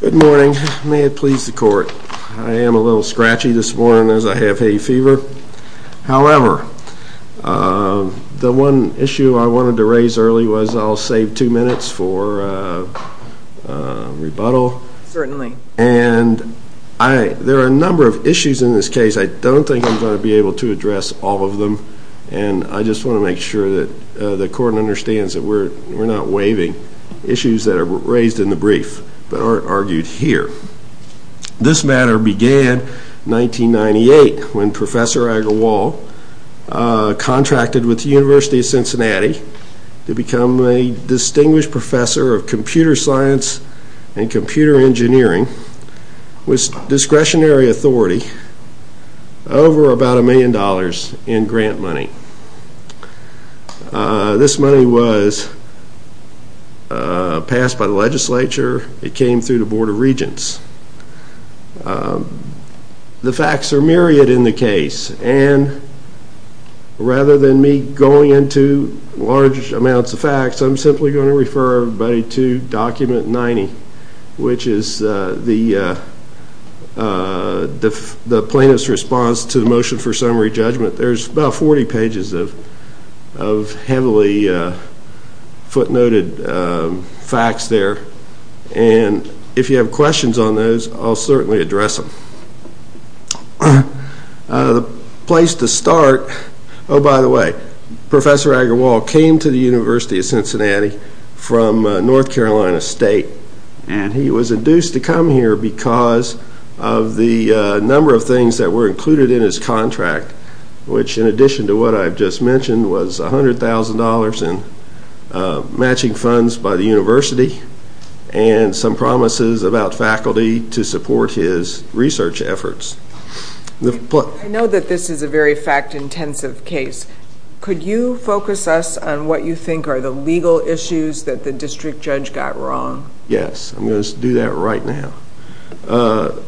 good morning may it please the court I am a little scratchy this morning as I have a fever however the one issue I wanted to raise early was I'll save two minutes for rebuttal and I there are a number of issues in this case I don't think I'm going to be able to address all of them and I just want to make sure that the court understands that we're we're not waiving issues that are raised in the year this matter began 1998 when Professor Agarwal contracted with University of Cincinnati to become a distinguished professor of computer science and computer engineering with discretionary authority over about a million dollars in grant money this money was passed by the legislature it the facts are myriad in the case and rather than me going into large amounts of facts I'm simply going to refer everybody to document 90 which is the the plaintiff's response to the motion for summary judgment there's about 40 pages of heavily footnoted facts there and if you have questions on those I'll certainly address them place to start by the way professor Agarwal came to the University of Cincinnati from North Carolina State and he was induced to come here because of the number of things that were included in his what I've just mentioned was a hundred thousand dollars in matching funds by the university and some promises about faculty to support his research efforts I know that this is a very fact-intensive case could you focus us on what you think are the legal issues that the district judge got wrong yes I'm going to do that right now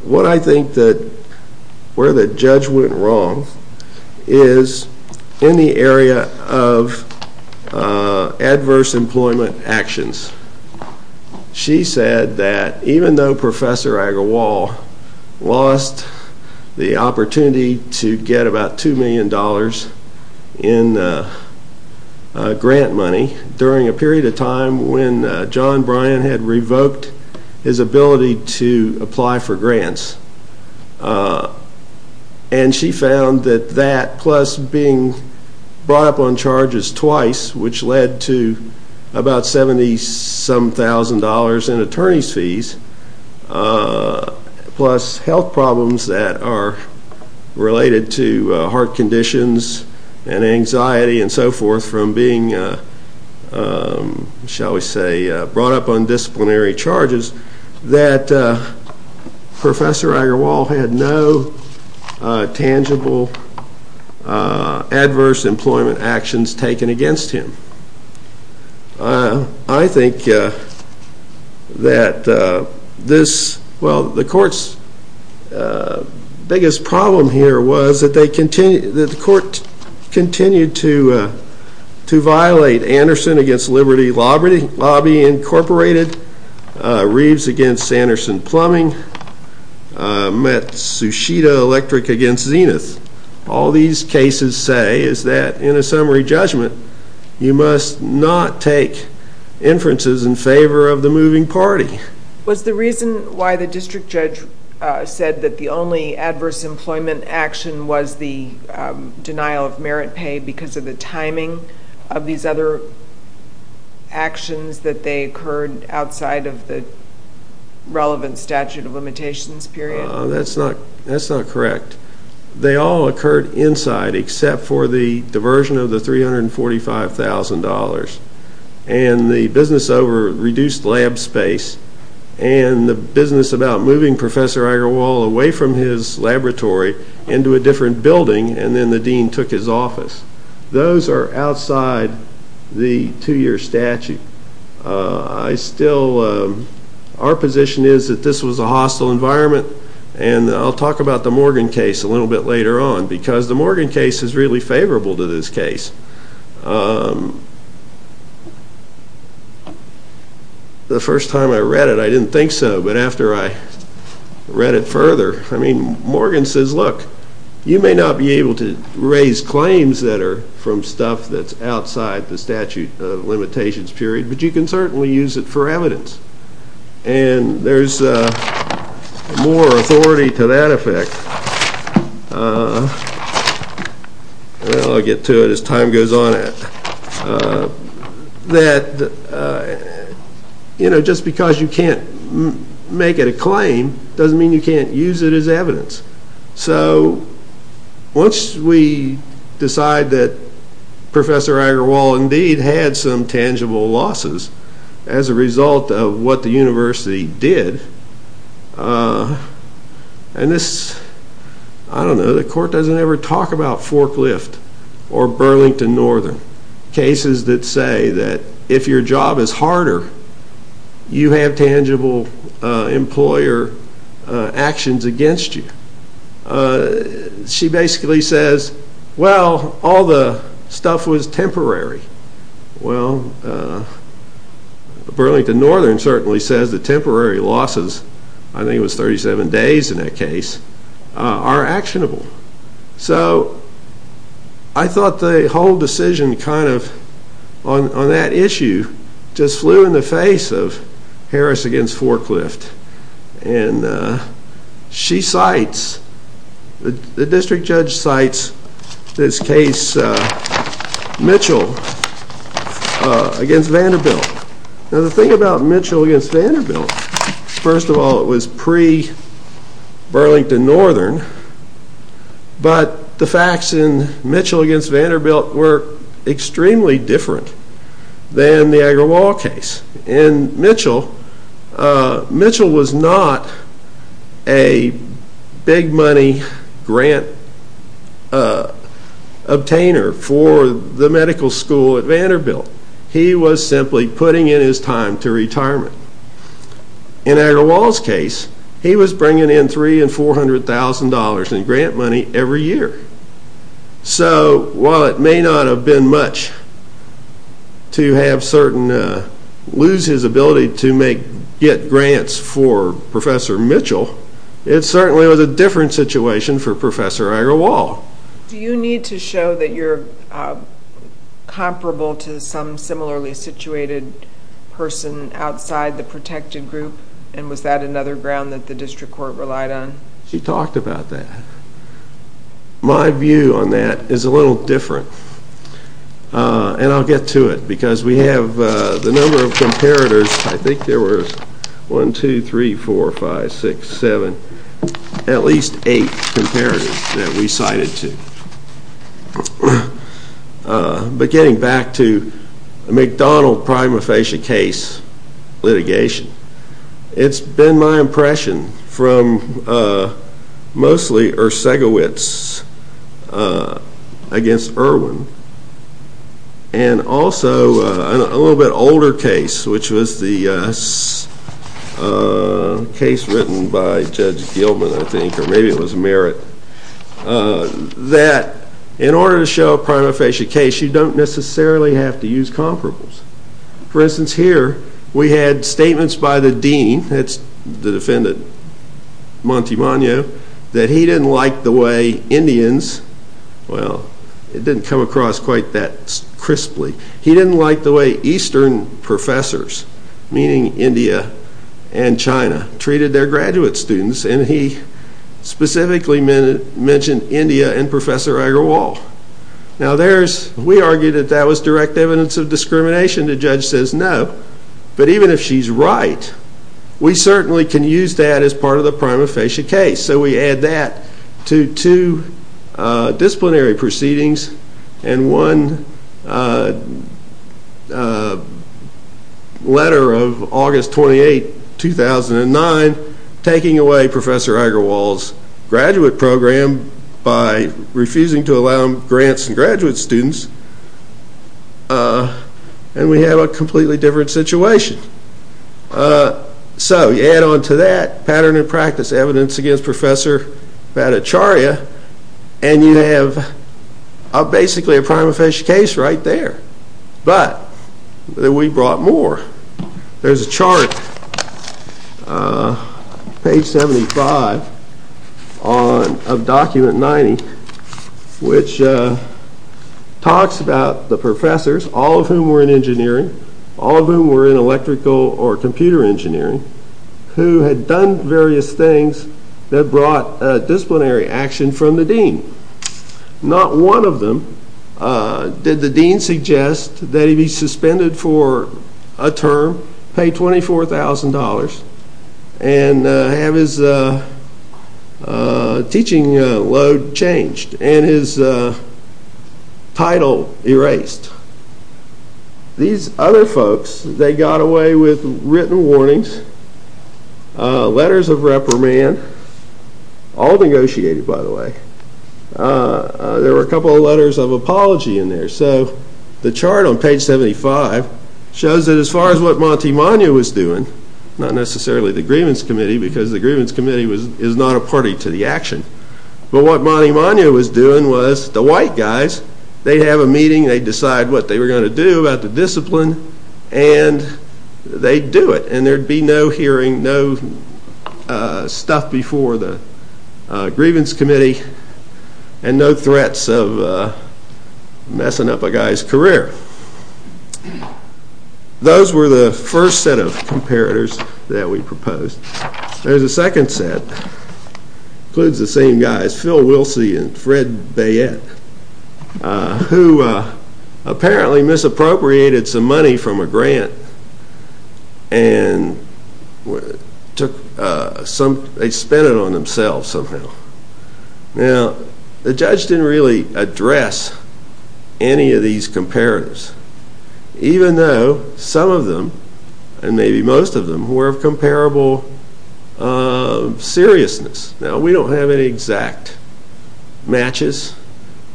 what I think that where the judge went wrong is in the area of adverse employment actions she said that even though professor Agarwal lost the opportunity to get about two million dollars in grant money during a period of time when John Bryan had revoked his ability to that plus being brought up on charges twice which led to about seventy some thousand dollars in attorney's fees plus health problems that are related to heart conditions and anxiety and so forth from being shall we say brought up on disciplinary charges that professor Agarwal had no tangible adverse employment actions taken against him I think that this well the courts biggest problem here was that they continue that the court continued to to violate Anderson against Liberty Lobby Incorporated Reeves against Anderson plumbing met Sushita Electric against Zenith all these cases say is that in a summary judgment you must not take inferences in favor of the moving party was the reason why the district judge said that the only adverse employment action was the denial of merit pay because of the timing of these other actions that they heard outside of the relevant statute of limitations that's not that's not correct they all occurred inside except for the diversion of the three hundred and forty five thousand dollars and the business over reduced lab space and the business about moving professor Agarwal away from his into a different building and then the Dean took his office those are outside the two-year statute I still our position is that this was a hostile environment and I'll talk about the Morgan case a little bit later on because the Morgan case is really favorable to this case the first time I read it I didn't think so but after I read it further I mean Morgan says look you may not be able to raise claims that are from stuff that's outside the statute of limitations period but you can certainly use it for evidence and there's more authority to that effect I'll get to it as time goes on that you know just because you can't make it a claim doesn't mean you can't use it as evidence so once we decide that professor Agarwal indeed had some tangible losses as a result of what the university did and this I don't know the court doesn't ever talk about forklift or Burlington Northern cases that say that if your job is harder you have tangible employer actions against you she basically says well all the stuff was temporary well Burlington Northern certainly says the temporary losses I think it was 37 days in that case are actionable so I thought the whole decision kind of on that issue just flew in the face of Harris against forklift and she cites the district judge cites this case Mitchell against Vanderbilt the thing about Mitchell against Vanderbilt first of all it was pre Burlington Northern but the facts in Mitchell against Vanderbilt were extremely different than the Agarwal case and Mitchell was not a big money grant obtainer for the medical school at Vanderbilt he was simply putting in his time to retirement in Agarwal's case he was bringing in three and four hundred thousand dollars in grant money every year so while it may not have been much to have certain lose his ability to make get grants for professor Mitchell it certainly was a different situation for professor Agarwal. Do you need to show that you're comparable to some similarly situated person outside the protected group and was that another ground that the district court relied on? She talked about that my view on that is a little different and I'll get to it because we have the number of comparators I think there were one two eight comparators that we cited to but getting back to McDonald prima facie case litigation it's been my impression from mostly Ursegovitz against Irwin and also a little bit older case which was the case written by Judge Gilman I think or maybe it was Merritt that in order to show a prima facie case you don't necessarily have to use comparables. For instance here we had statements by the Dean that's the defendant Montemagno that he didn't like the way Indians well it didn't come across quite that crisply he didn't like the way Eastern professors meaning India and China treated their graduate students and he specifically mentioned India and professor Agarwal. Now there's we argued that that was direct evidence of discrimination the judge says no but even if she's right we certainly can use that as part of the prima facie case so we add that to two disciplinary proceedings and one letter of August 28 2009 taking away professor Agarwal's graduate program by refusing to allow grants and graduate students and we have a completely different situation so you pattern and practice evidence against professor Bhattacharya and you have basically a prima facie case right there but we brought more. There's a chart page 75 of document 90 which talks about the professors all of whom were in engineering all of whom were in electrical or computer engineering who had done various things that brought disciplinary action from the Dean. Not one of them did the Dean suggest that he be suspended for a term pay $24,000 and have his teaching load changed and his title erased. These other folks they got away with written warnings, letters of reprimand, all negotiated by the way. There were a couple of letters of apology in there so the chart on page 75 shows that as far as what Monty Monia was doing not necessarily the grievance committee because the grievance committee was is not a party to the action but what Monty Monia was doing was the white guys they have a meeting they decide what they were going to do about the discipline and they do it and there'd be no hearing no stuff before the grievance committee and no threats of messing up a guy's career. Those were the first set of comparators that we proposed. There's a second set includes the same guys Phil Wilsey and Fred Bayette who apparently misappropriated some money from a grant and took some they spent it on themselves somehow. Now the judge didn't really address any of these comparators even though some of them and maybe most of them were of exact matches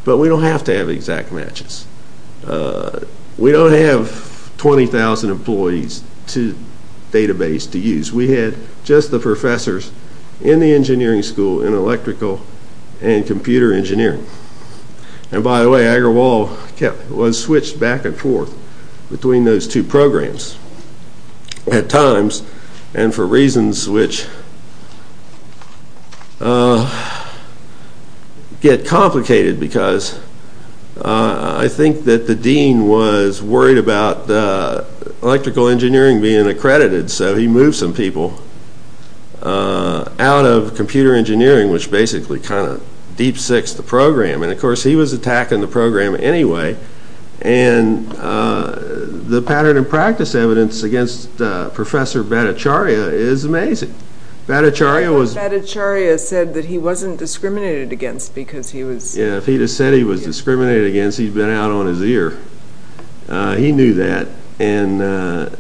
but we don't have to have exact matches. We don't have 20,000 employees to database to use. We had just the professors in the engineering school in electrical and computer engineering and by the way Agarwal was switched back and forth between those two programs at times and for reasons which get complicated because I think that the Dean was worried about the electrical engineering being accredited so he moved some people out of computer engineering which basically kind of deep six the program and of course he was attacking the program anyway and the pattern and practice evidence against Professor Bhattacharya is amazing. Bhattacharya said that he wasn't discriminated against because he was. Yeah if he said he was discriminated against he'd been out on his ear. He knew that and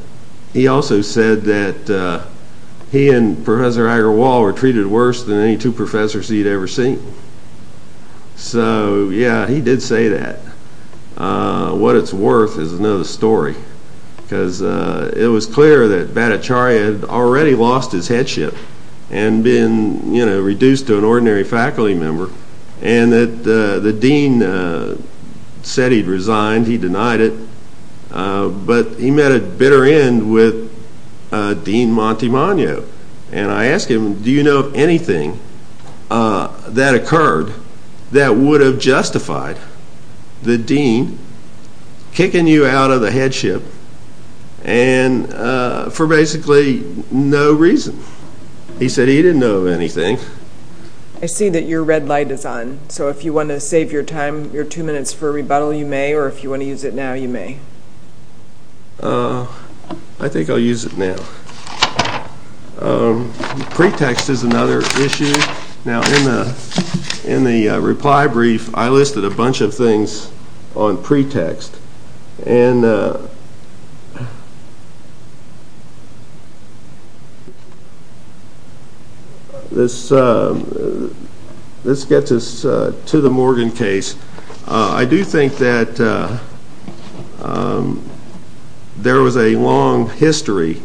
he also said that he and Professor Agarwal were treated worse than any two professors he'd ever seen. So yeah he did say that. What it's worth is another story because it was clear that Bhattacharya had already lost his headship and been you know reduced to an ordinary faculty member and that the Dean said he'd resigned. He denied it but he met a bitter end with Dean Montemagno and I asked him do you know of anything that occurred that would have justified the Dean kicking you out of the headship and for basically no reason. He said he didn't know of anything. I see that your red light is on so if you want to save your time your two minutes for a rebuttal you may or if you want to use it now you may. I think I'll use it now. Pretext is another issue. Now in the reply brief I listed a bunch of things on pretext and this gets us to the Morgan case. I do think that there was a long history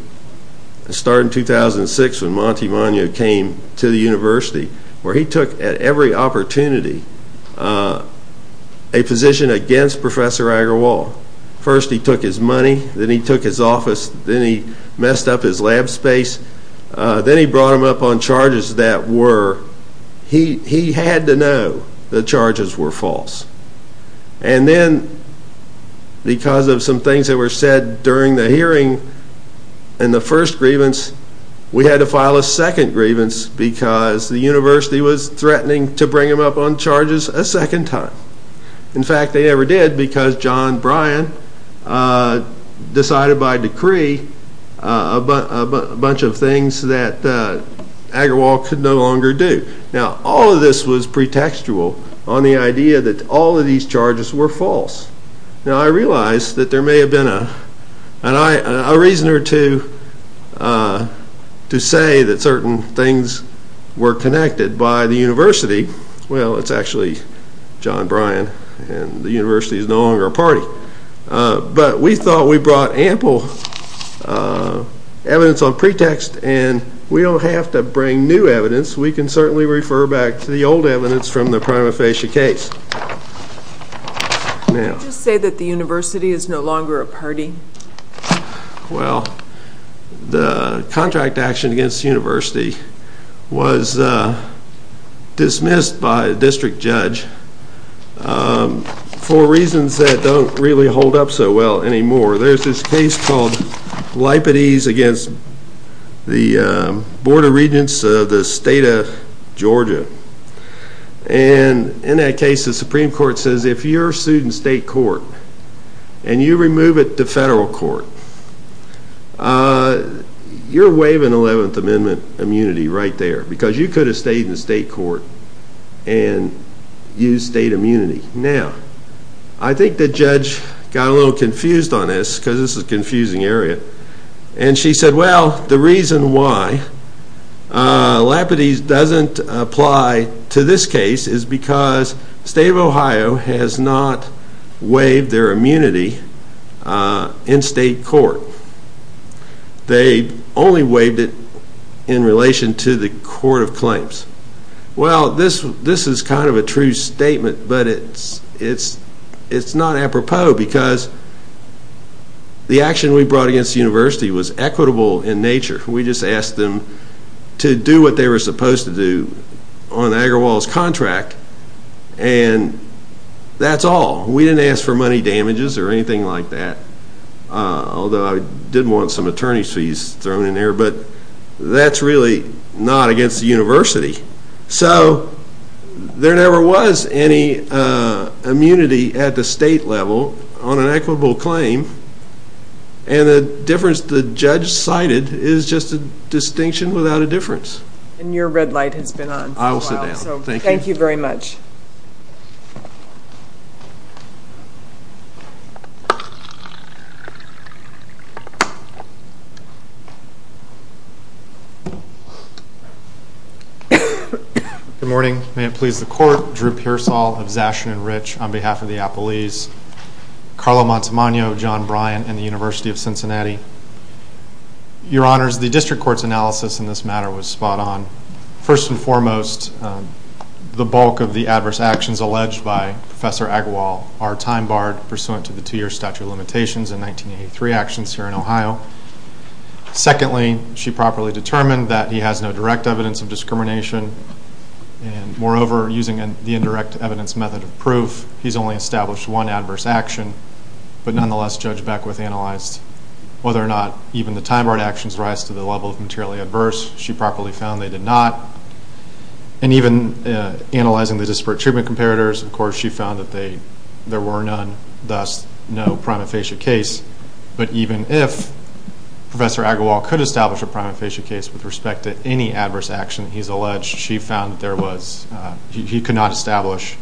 starting in 2006 when Montemagno came to the University where he took at every opportunity a position against Professor Agarwal. First he took his money then he took his office then he messed up his lab space then he brought him up on charges that were he he had to know the charges were false and then because of some things that were said during the hearing and the first grievance we had to file a second grievance because the University was threatening to bring him up on charges a second time. In fact they never did because John Bryan decided by decree a bunch of things that Agarwal could no longer do. Now all of this was pretextual on the idea that all of these charges were false. Now I realize that there may have been a reason or two to say that certain things were connected by the University. Well it's actually John Bryan and the University is no longer a party but we thought we brought ample evidence on pretext and we don't have to bring new evidence we can certainly refer back to the old evidence from the prima facie case. Now. Did you just say that the University is no longer a party? Well the contract action against the University was dismissed by a district judge for reasons that don't really hold up so well anymore. There's this case called Lipatese against the Board of and in that case the Supreme Court says if you're sued in state court and you remove it to federal court you're waiving 11th Amendment immunity right there because you could have stayed in state court and used state immunity. Now I think the judge got a little confused on this because this is a confusing area and she said well the reason why Lipatese doesn't apply to this case is because the state of Ohio has not waived their immunity in state court. They only waived it in relation to the court of claims. Well this this is kind of a true statement but it's it's it's not apropos because the action we brought against the University was equitable in nature. We just asked them to do what they were supposed to do on Agarwal's contract and that's all. We didn't ask for money damages or anything like that although I did want some attorney's fees thrown in there but that's really not against the University. So there never was any immunity at the state level on an equitable claim and the difference the judge cited is just a distinction without a difference. And your red light has been on. I will sit down. Thank you very much. Good morning. May it please the court. Drew Pearsall of Zashun and Rich on behalf of the Appalese. Carlo Montemagno, John Bryant and the University of Cincinnati. Your honors the district court's analysis in this matter was spot on. First and foremost the bulk of the adverse actions alleged by Professor Agarwal are time barred pursuing a count to the two year statute of limitations in 1983 actions here in Ohio. Secondly she properly determined that he has no direct evidence of discrimination and moreover using the indirect evidence method of proof he's only established one adverse action but nonetheless Judge Beckwith analyzed whether or not even the time barred actions rise to the level of materially adverse. She properly found they did not. And even analyzing the disparate treatment comparators of course she found that they there were none thus no prima facie case but even if Professor Agarwal could establish a prima facie case with respect to any adverse action he's alleged she found there was, he could not establish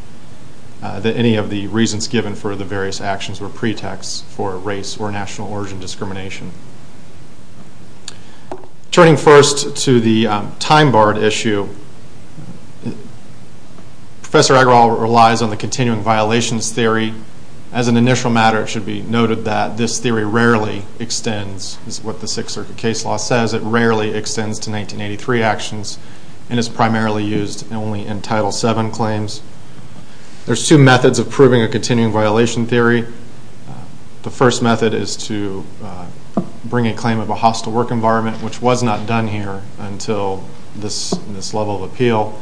that any of the reasons given for the various actions were pretexts for race or national origin discrimination. Turning first to the time barred issue, Professor Agarwal relies on the continuing violations theory as an initial matter it should be noted that this theory rarely extends is what the Sixth Circuit case law says it rarely extends to 1983 actions and is primarily used only in Title VII claims. There's two methods of proving a continuing violation theory. The first method is to bring a claim of a hostile work environment which was not done here until this level of appeal.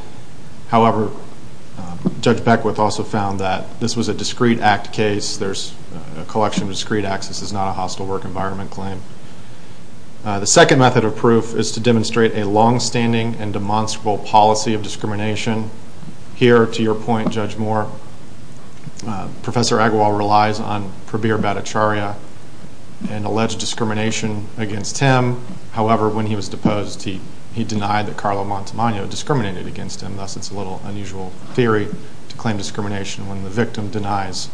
However, Judge Beckwith also found that this was a discreet act case. There's a collection of discreet acts. This is not a hostile work environment claim. The second method of proof is to demonstrate a longstanding and demonstrable policy of discrimination. Here to your point Judge Moore, Professor Agarwal relies on Prabir Bhattacharya and alleged discrimination against him. However, when he was deposed he denied that Carlo Montemagno discriminated against him thus it's a little unusual theory to claim discrimination when the victim denies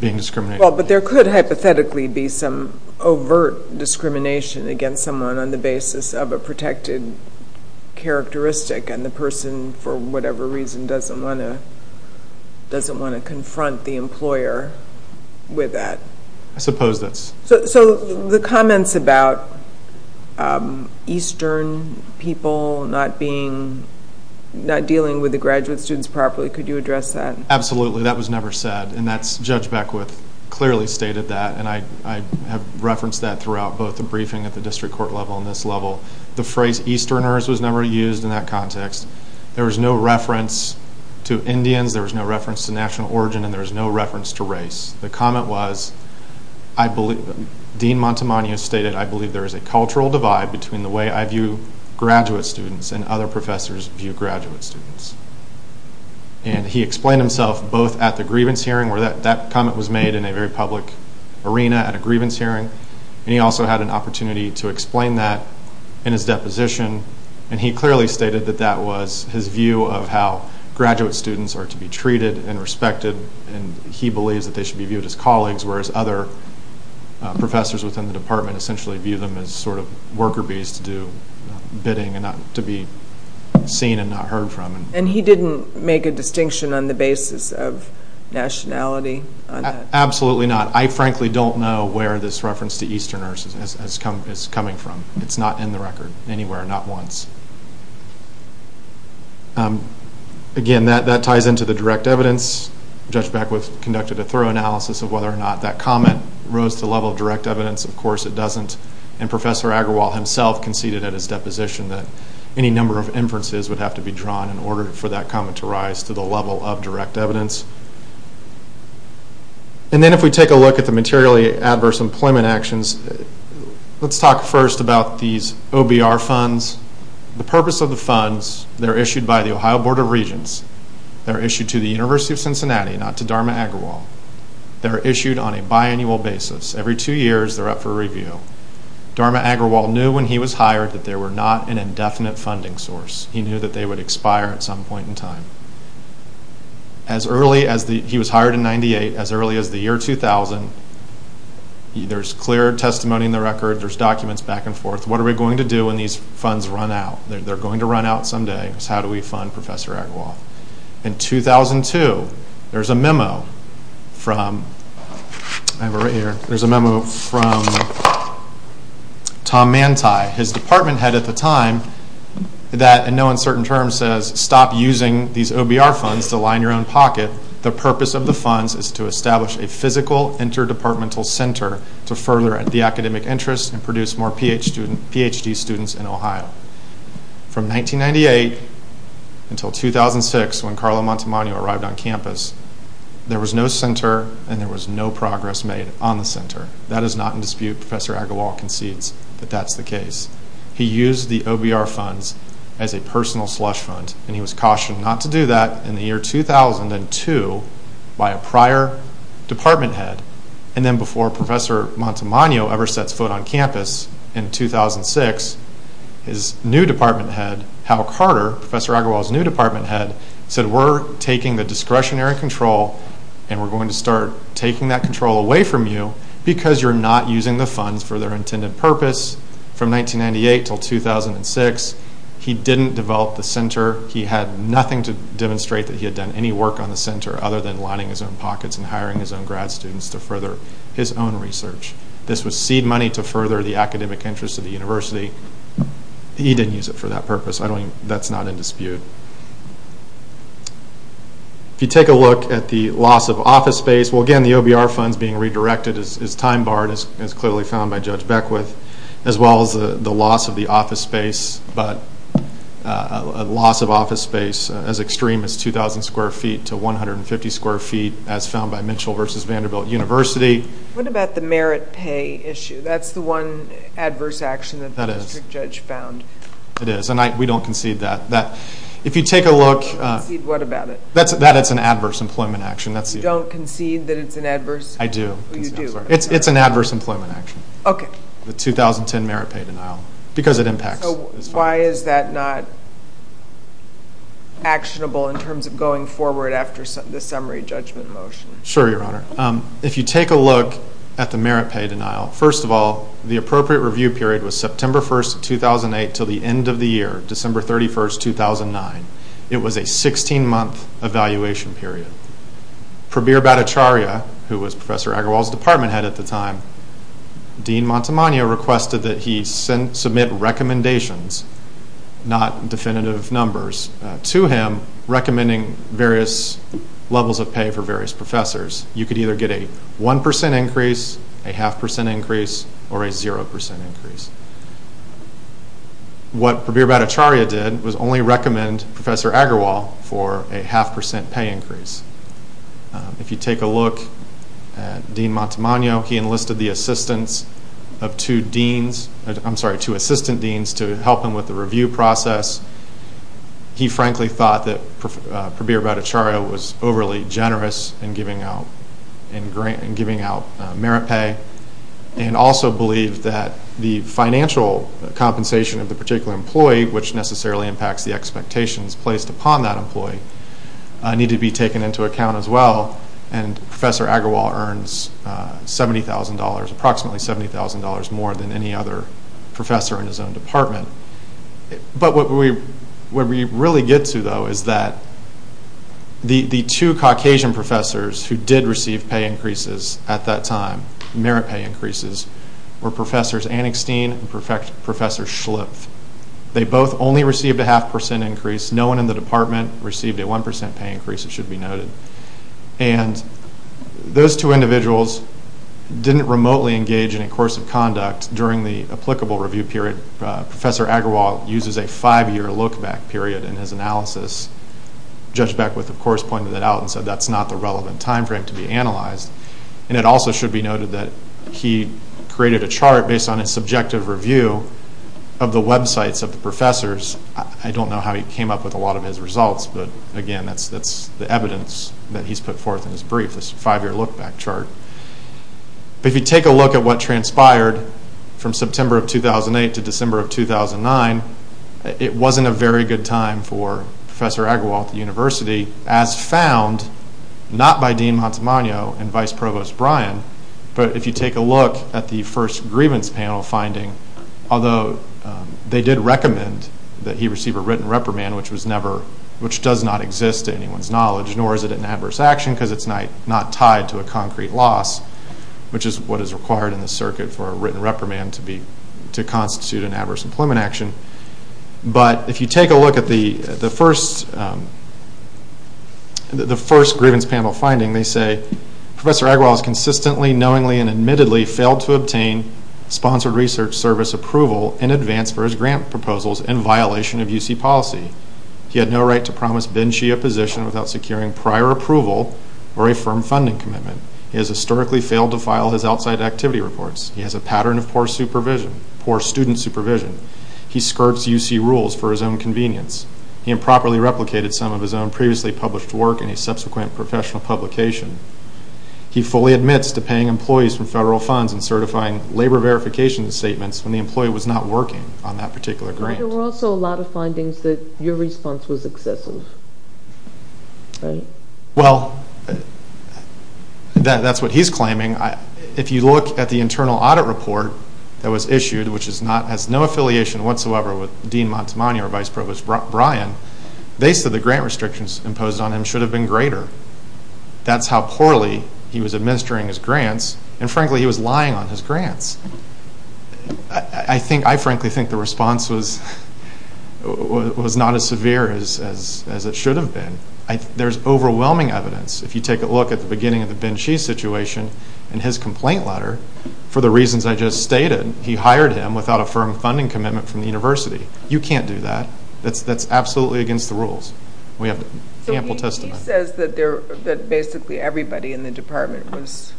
being discriminated against. Well, but there could hypothetically be some overt discrimination against someone on the basis of a protected characteristic and the person for whatever reason doesn't want to confront the employer with that. I suppose that's. So the comments about eastern people not being, not dealing with the graduate students properly, could you address that? Absolutely, that was never said and that's Judge Beckwith. Clearly stated that and I have referenced that throughout both the briefing at the district court level and this level. The phrase easterners was never used in that context. There was no reference to Indians, there was no reference to national origin, and there was no reference to race. The comment was, Dean Montemagno stated, I believe there is a cultural divide between the way I view graduate students and other professors view graduate students. And he explained himself both at the grievance hearing where that comment was made in a very public arena at a grievance hearing and he also had an opportunity to explain that in his deposition and he clearly stated that that was his view of how graduate students are to be treated and respected and he believes that they should be viewed as colleagues whereas other professors within the department essentially view them as sort of worker bees to do bidding and not to be seen and not heard from. And he didn't make a distinction on the basis of nationality? Absolutely not. I frankly don't know where this reference to easterners is coming from. It's not in the record anywhere, not once. Again, that ties into the direct evidence. Judge Beckwith conducted a thorough analysis of whether or not that comment rose to the level of direct evidence. Of course it doesn't and Professor Agrawal himself conceded at his deposition that any number of inferences would have to be drawn in order for that comment to rise to the level of direct evidence. And then if we take a look at the materially adverse employment actions, let's talk first about these OBR funds. The purpose of the funds, they're issued by the Ohio Board of Regents. They're issued to the University of Cincinnati, not to Dharma Agrawal. They're issued on a biannual basis. Every two years they're up for review. Dharma Agrawal knew when he was hired that they were not an indefinite funding source. He knew that they would expire at some point in time. As early as the, he was hired in 98, as early as the year 2000, there's clear testimony in the record, there's documents back and forth. What are we going to do when these funds run out? They're going to run out someday. How do we fund Professor Agrawal? In 2002, there's a memo from, I have it right here, there's a memo from Tom Manti, his department head at the time, that in no uncertain terms says, stop using these OBR funds to line your own pocket. The purpose of the funds is to establish a physical interdepartmental center to further the academic interest and produce more PhD students in Ohio. From 1998 until 2006, when Carlo Montemagno arrived on campus, there was no center and there was no progress made on the center. That is not in dispute. Professor Agrawal concedes that that's the case. He used the OBR funds as a personal slush fund and he was cautioned not to do that in the year 2002 by a prior department head. And then before Professor Montemagno ever sets foot on campus in 2006, his new department head, Hal Carter, Professor Agrawal's new department head, said we're taking the discretionary control and we're going to start taking that control away from you because you're not using the funds for their intended purpose. From 1998 until 2006, he didn't develop the center. He had nothing to demonstrate that he had done any work on the center other than lining his own pockets and hiring his own grad students to further his own research. This was seed money to further the academic interest of the university. He didn't use it for that purpose. That's not in dispute. If you take a look at the loss of office space, well again the OBR funds being redirected is time barred as clearly found by Judge Beckwith, as well as the loss of the office space, but a loss of office space as extreme as 2,000 square feet to 150 square feet as found by Mitchell v. Vanderbilt University. What about the merit pay issue? That's the one adverse action that the district judge found. It is and we don't concede that. Concede what about it? That it's an adverse employment action. You don't concede that it's an adverse? I do. You do. It's an adverse employment action. Okay. The 2010 merit pay denial because it impacts. So why is that not actionable in terms of going forward after the summary judgment motion? If you take a look at the merit pay denial, first of all the appropriate review period was September 1, 2008 until the end of the year, December 31, 2009. It was a 16 month evaluation period. Prabir Bhattacharya, who was Professor Agarwal's department head at the time, Dean Montemagno requested that he submit recommendations, not definitive numbers, to him recommending various levels of pay for various professors. You could either get a 1% increase, a half percent increase, or a 0% increase. What Prabir Bhattacharya did was only recommend Professor Agarwal for a half percent pay increase. If you take a look at Dean Montemagno, he enlisted the assistance of two deans, I'm sorry, two assistant deans to help him with the review process. He frankly thought that Prabir Bhattacharya was overly generous in giving out merit pay and also believed that the financial compensation of the particular employee, which necessarily impacts the expectations placed upon that employee, needed to be taken into account as well. And Professor Agarwal earns approximately $70,000 more than any other professor in his own department. But what we really get to though is that the two Caucasian professors who did receive pay increases at that time, merit pay increases, were Professors Anningstein and Professors Schlipf. They both only received a half percent increase. No one in the department received a 1% pay increase, it should be noted. And those two individuals didn't remotely engage in a course of conduct during the applicable review period. Professor Agarwal uses a five year look back period in his analysis. Judge Beckwith of course pointed that out and said that's not the relevant time frame to be analyzed. And it also should be noted that he created a chart based on his subjective review of the websites of the professors. I don't know how he came up with a lot of his results, but again that's the evidence that he's put forth in his brief, this five year look back chart. If you take a look at what transpired from September of 2008 to December of 2009, it wasn't a very good time for Professor Agarwal at the university as found, not by Dean Montemagno and Vice Provost Bryan, but if you take a look at the first grievance panel finding, although they did recommend that he receive a written reprimand, which does not exist to anyone's knowledge, nor is it an adverse action because it's not tied to a concrete loss, which is what is required in the circuit for a written reprimand to constitute an adverse employment action. But if you take a look at the first grievance panel finding, they say, Professor Agarwal has consistently, knowingly, and admittedly failed to obtain sponsored research service approval in advance for his grant proposals in violation of UC policy. He had no right to promise Ben Shia a position without securing prior approval or a firm funding commitment. He has historically failed to file his outside activity reports. He has a pattern of poor student supervision. He skirts UC rules for his own convenience. He improperly replicated some of his own previously published work in his subsequent professional publication. He fully admits to paying employees from federal funds and certifying labor verification statements when the employee was not working on that particular grant. There were also a lot of findings that your response was excessive, right? Well, that's what he's claiming. If you look at the internal audit report that was issued, which has no affiliation whatsoever with Dean Montemagno or Vice Provost Bryan, they said the grant restrictions imposed on him should have been greater. That's how poorly he was administering his grants, and frankly, he was lying on his grants. I frankly think the response was not as severe as it should have been. There's overwhelming evidence. If you take a look at the beginning of the Ben Shia situation and his complaint letter, for the reasons I just stated, he hired him without a firm funding commitment from the university. You can't do that. That's absolutely against the rules. We have ample testimony. He says that basically everybody in the department was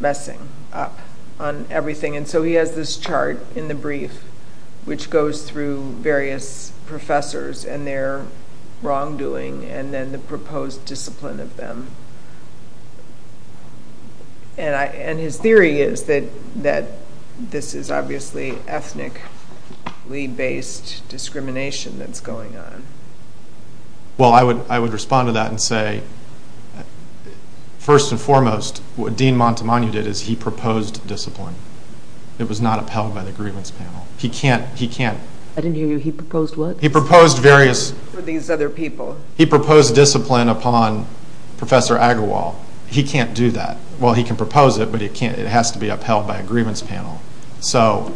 messing up on everything, and so he has this chart in the brief which goes through various professors and their wrongdoing and then the proposed discipline of them. And his theory is that this is obviously ethnically-based discrimination that's going on. Well, I would respond to that and say, first and foremost, what Dean Montemagno did is he proposed discipline. It was not upheld by the grievance panel. He can't. I didn't hear you. He proposed what? He proposed discipline upon Professor Agarwal. He can't do that. Well, he can propose it, but it has to be upheld by a grievance panel. So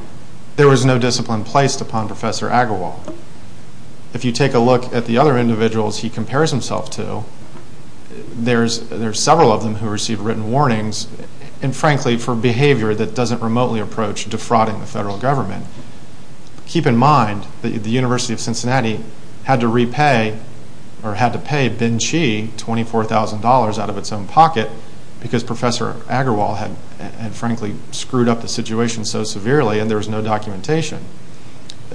there was no discipline placed upon Professor Agarwal. If you take a look at the other individuals he compares himself to, there's several of them who received written warnings, and frankly for behavior that doesn't remotely approach defrauding the federal government. Keep in mind that the University of Cincinnati had to pay Ben Chee $24,000 out of its own pocket because Professor Agarwal had frankly screwed up the situation so severely and there was no documentation.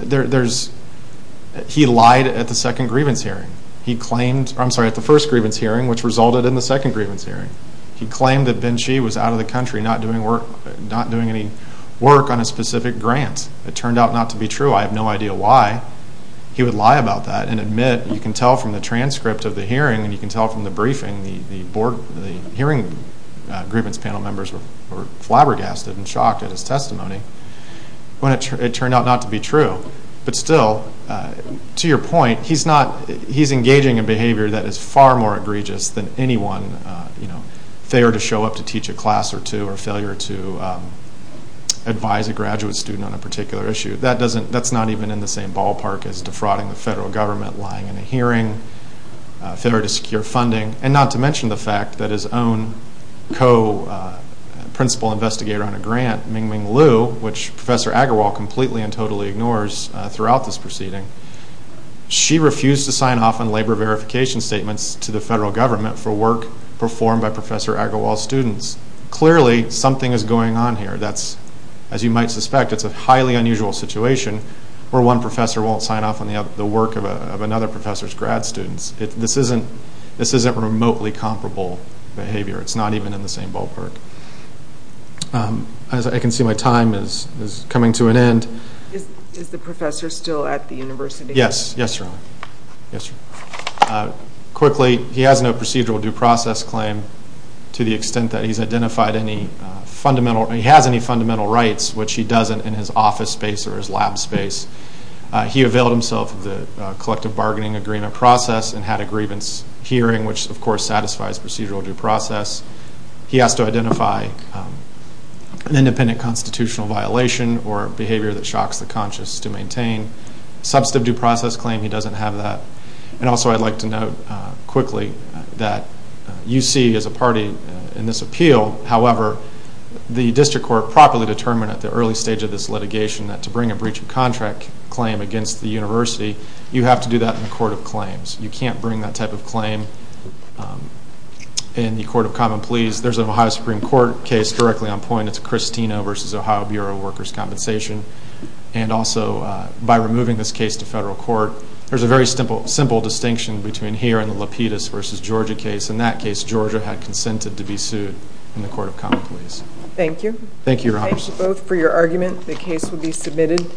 He lied at the first grievance hearing which resulted in the second grievance hearing. He claimed that Ben Chee was out of the country not doing any work on a specific grant. It turned out not to be true. I have no idea why he would lie about that and admit, you can tell from the transcript of the hearing and you can tell from the briefing, the hearing grievance panel members were flabbergasted and shocked at his testimony when it turned out not to be true. But still, to your point, he's engaging in behavior that is far more egregious than anyone, failure to show up to teach a class or two, or failure to advise a graduate student on a particular issue. That's not even in the same ballpark as defrauding the federal government, lying in a hearing, failure to secure funding, and not to mention the fact that his own co-principal investigator on a grant, Mingming Liu, which Professor Agarwal completely and totally ignores throughout this proceeding, she refused to sign off on labor verification statements to the federal government for work performed by Professor Agarwal's students. Clearly, something is going on here. As you might suspect, it's a highly unusual situation where one professor won't sign off on the work of another professor's grad students. This isn't remotely comparable behavior. It's not even in the same ballpark. As I can see, my time is coming to an end. Is the professor still at the university? Yes. Yes, sir. Quickly, he has no procedural due process claim to the extent that he has any fundamental rights, which he doesn't in his office space or his lab space. He availed himself of the collective bargaining agreement process and had a grievance hearing, which of course satisfies procedural due process. He has to identify an independent constitutional violation or behavior that shocks the conscious to maintain. Substantive due process claim, he doesn't have that. Also, I'd like to note quickly that you see as a party in this appeal, however, the district court properly determined at the early stage of this litigation that to bring a breach of contract claim against the university, you have to do that in a court of claims. You can't bring that type of claim in the court of common pleas. There's an Ohio Supreme Court case directly on point. It's a Cristino v. Ohio Bureau of Workers' Compensation. Also, by removing this case to federal court, there's a very simple distinction between here and the Lapidus v. Georgia case. In that case, Georgia had consented to be sued in the court of common pleas. Thank you. Thank you, Robert. Thank you both for your argument. The case will be submitted.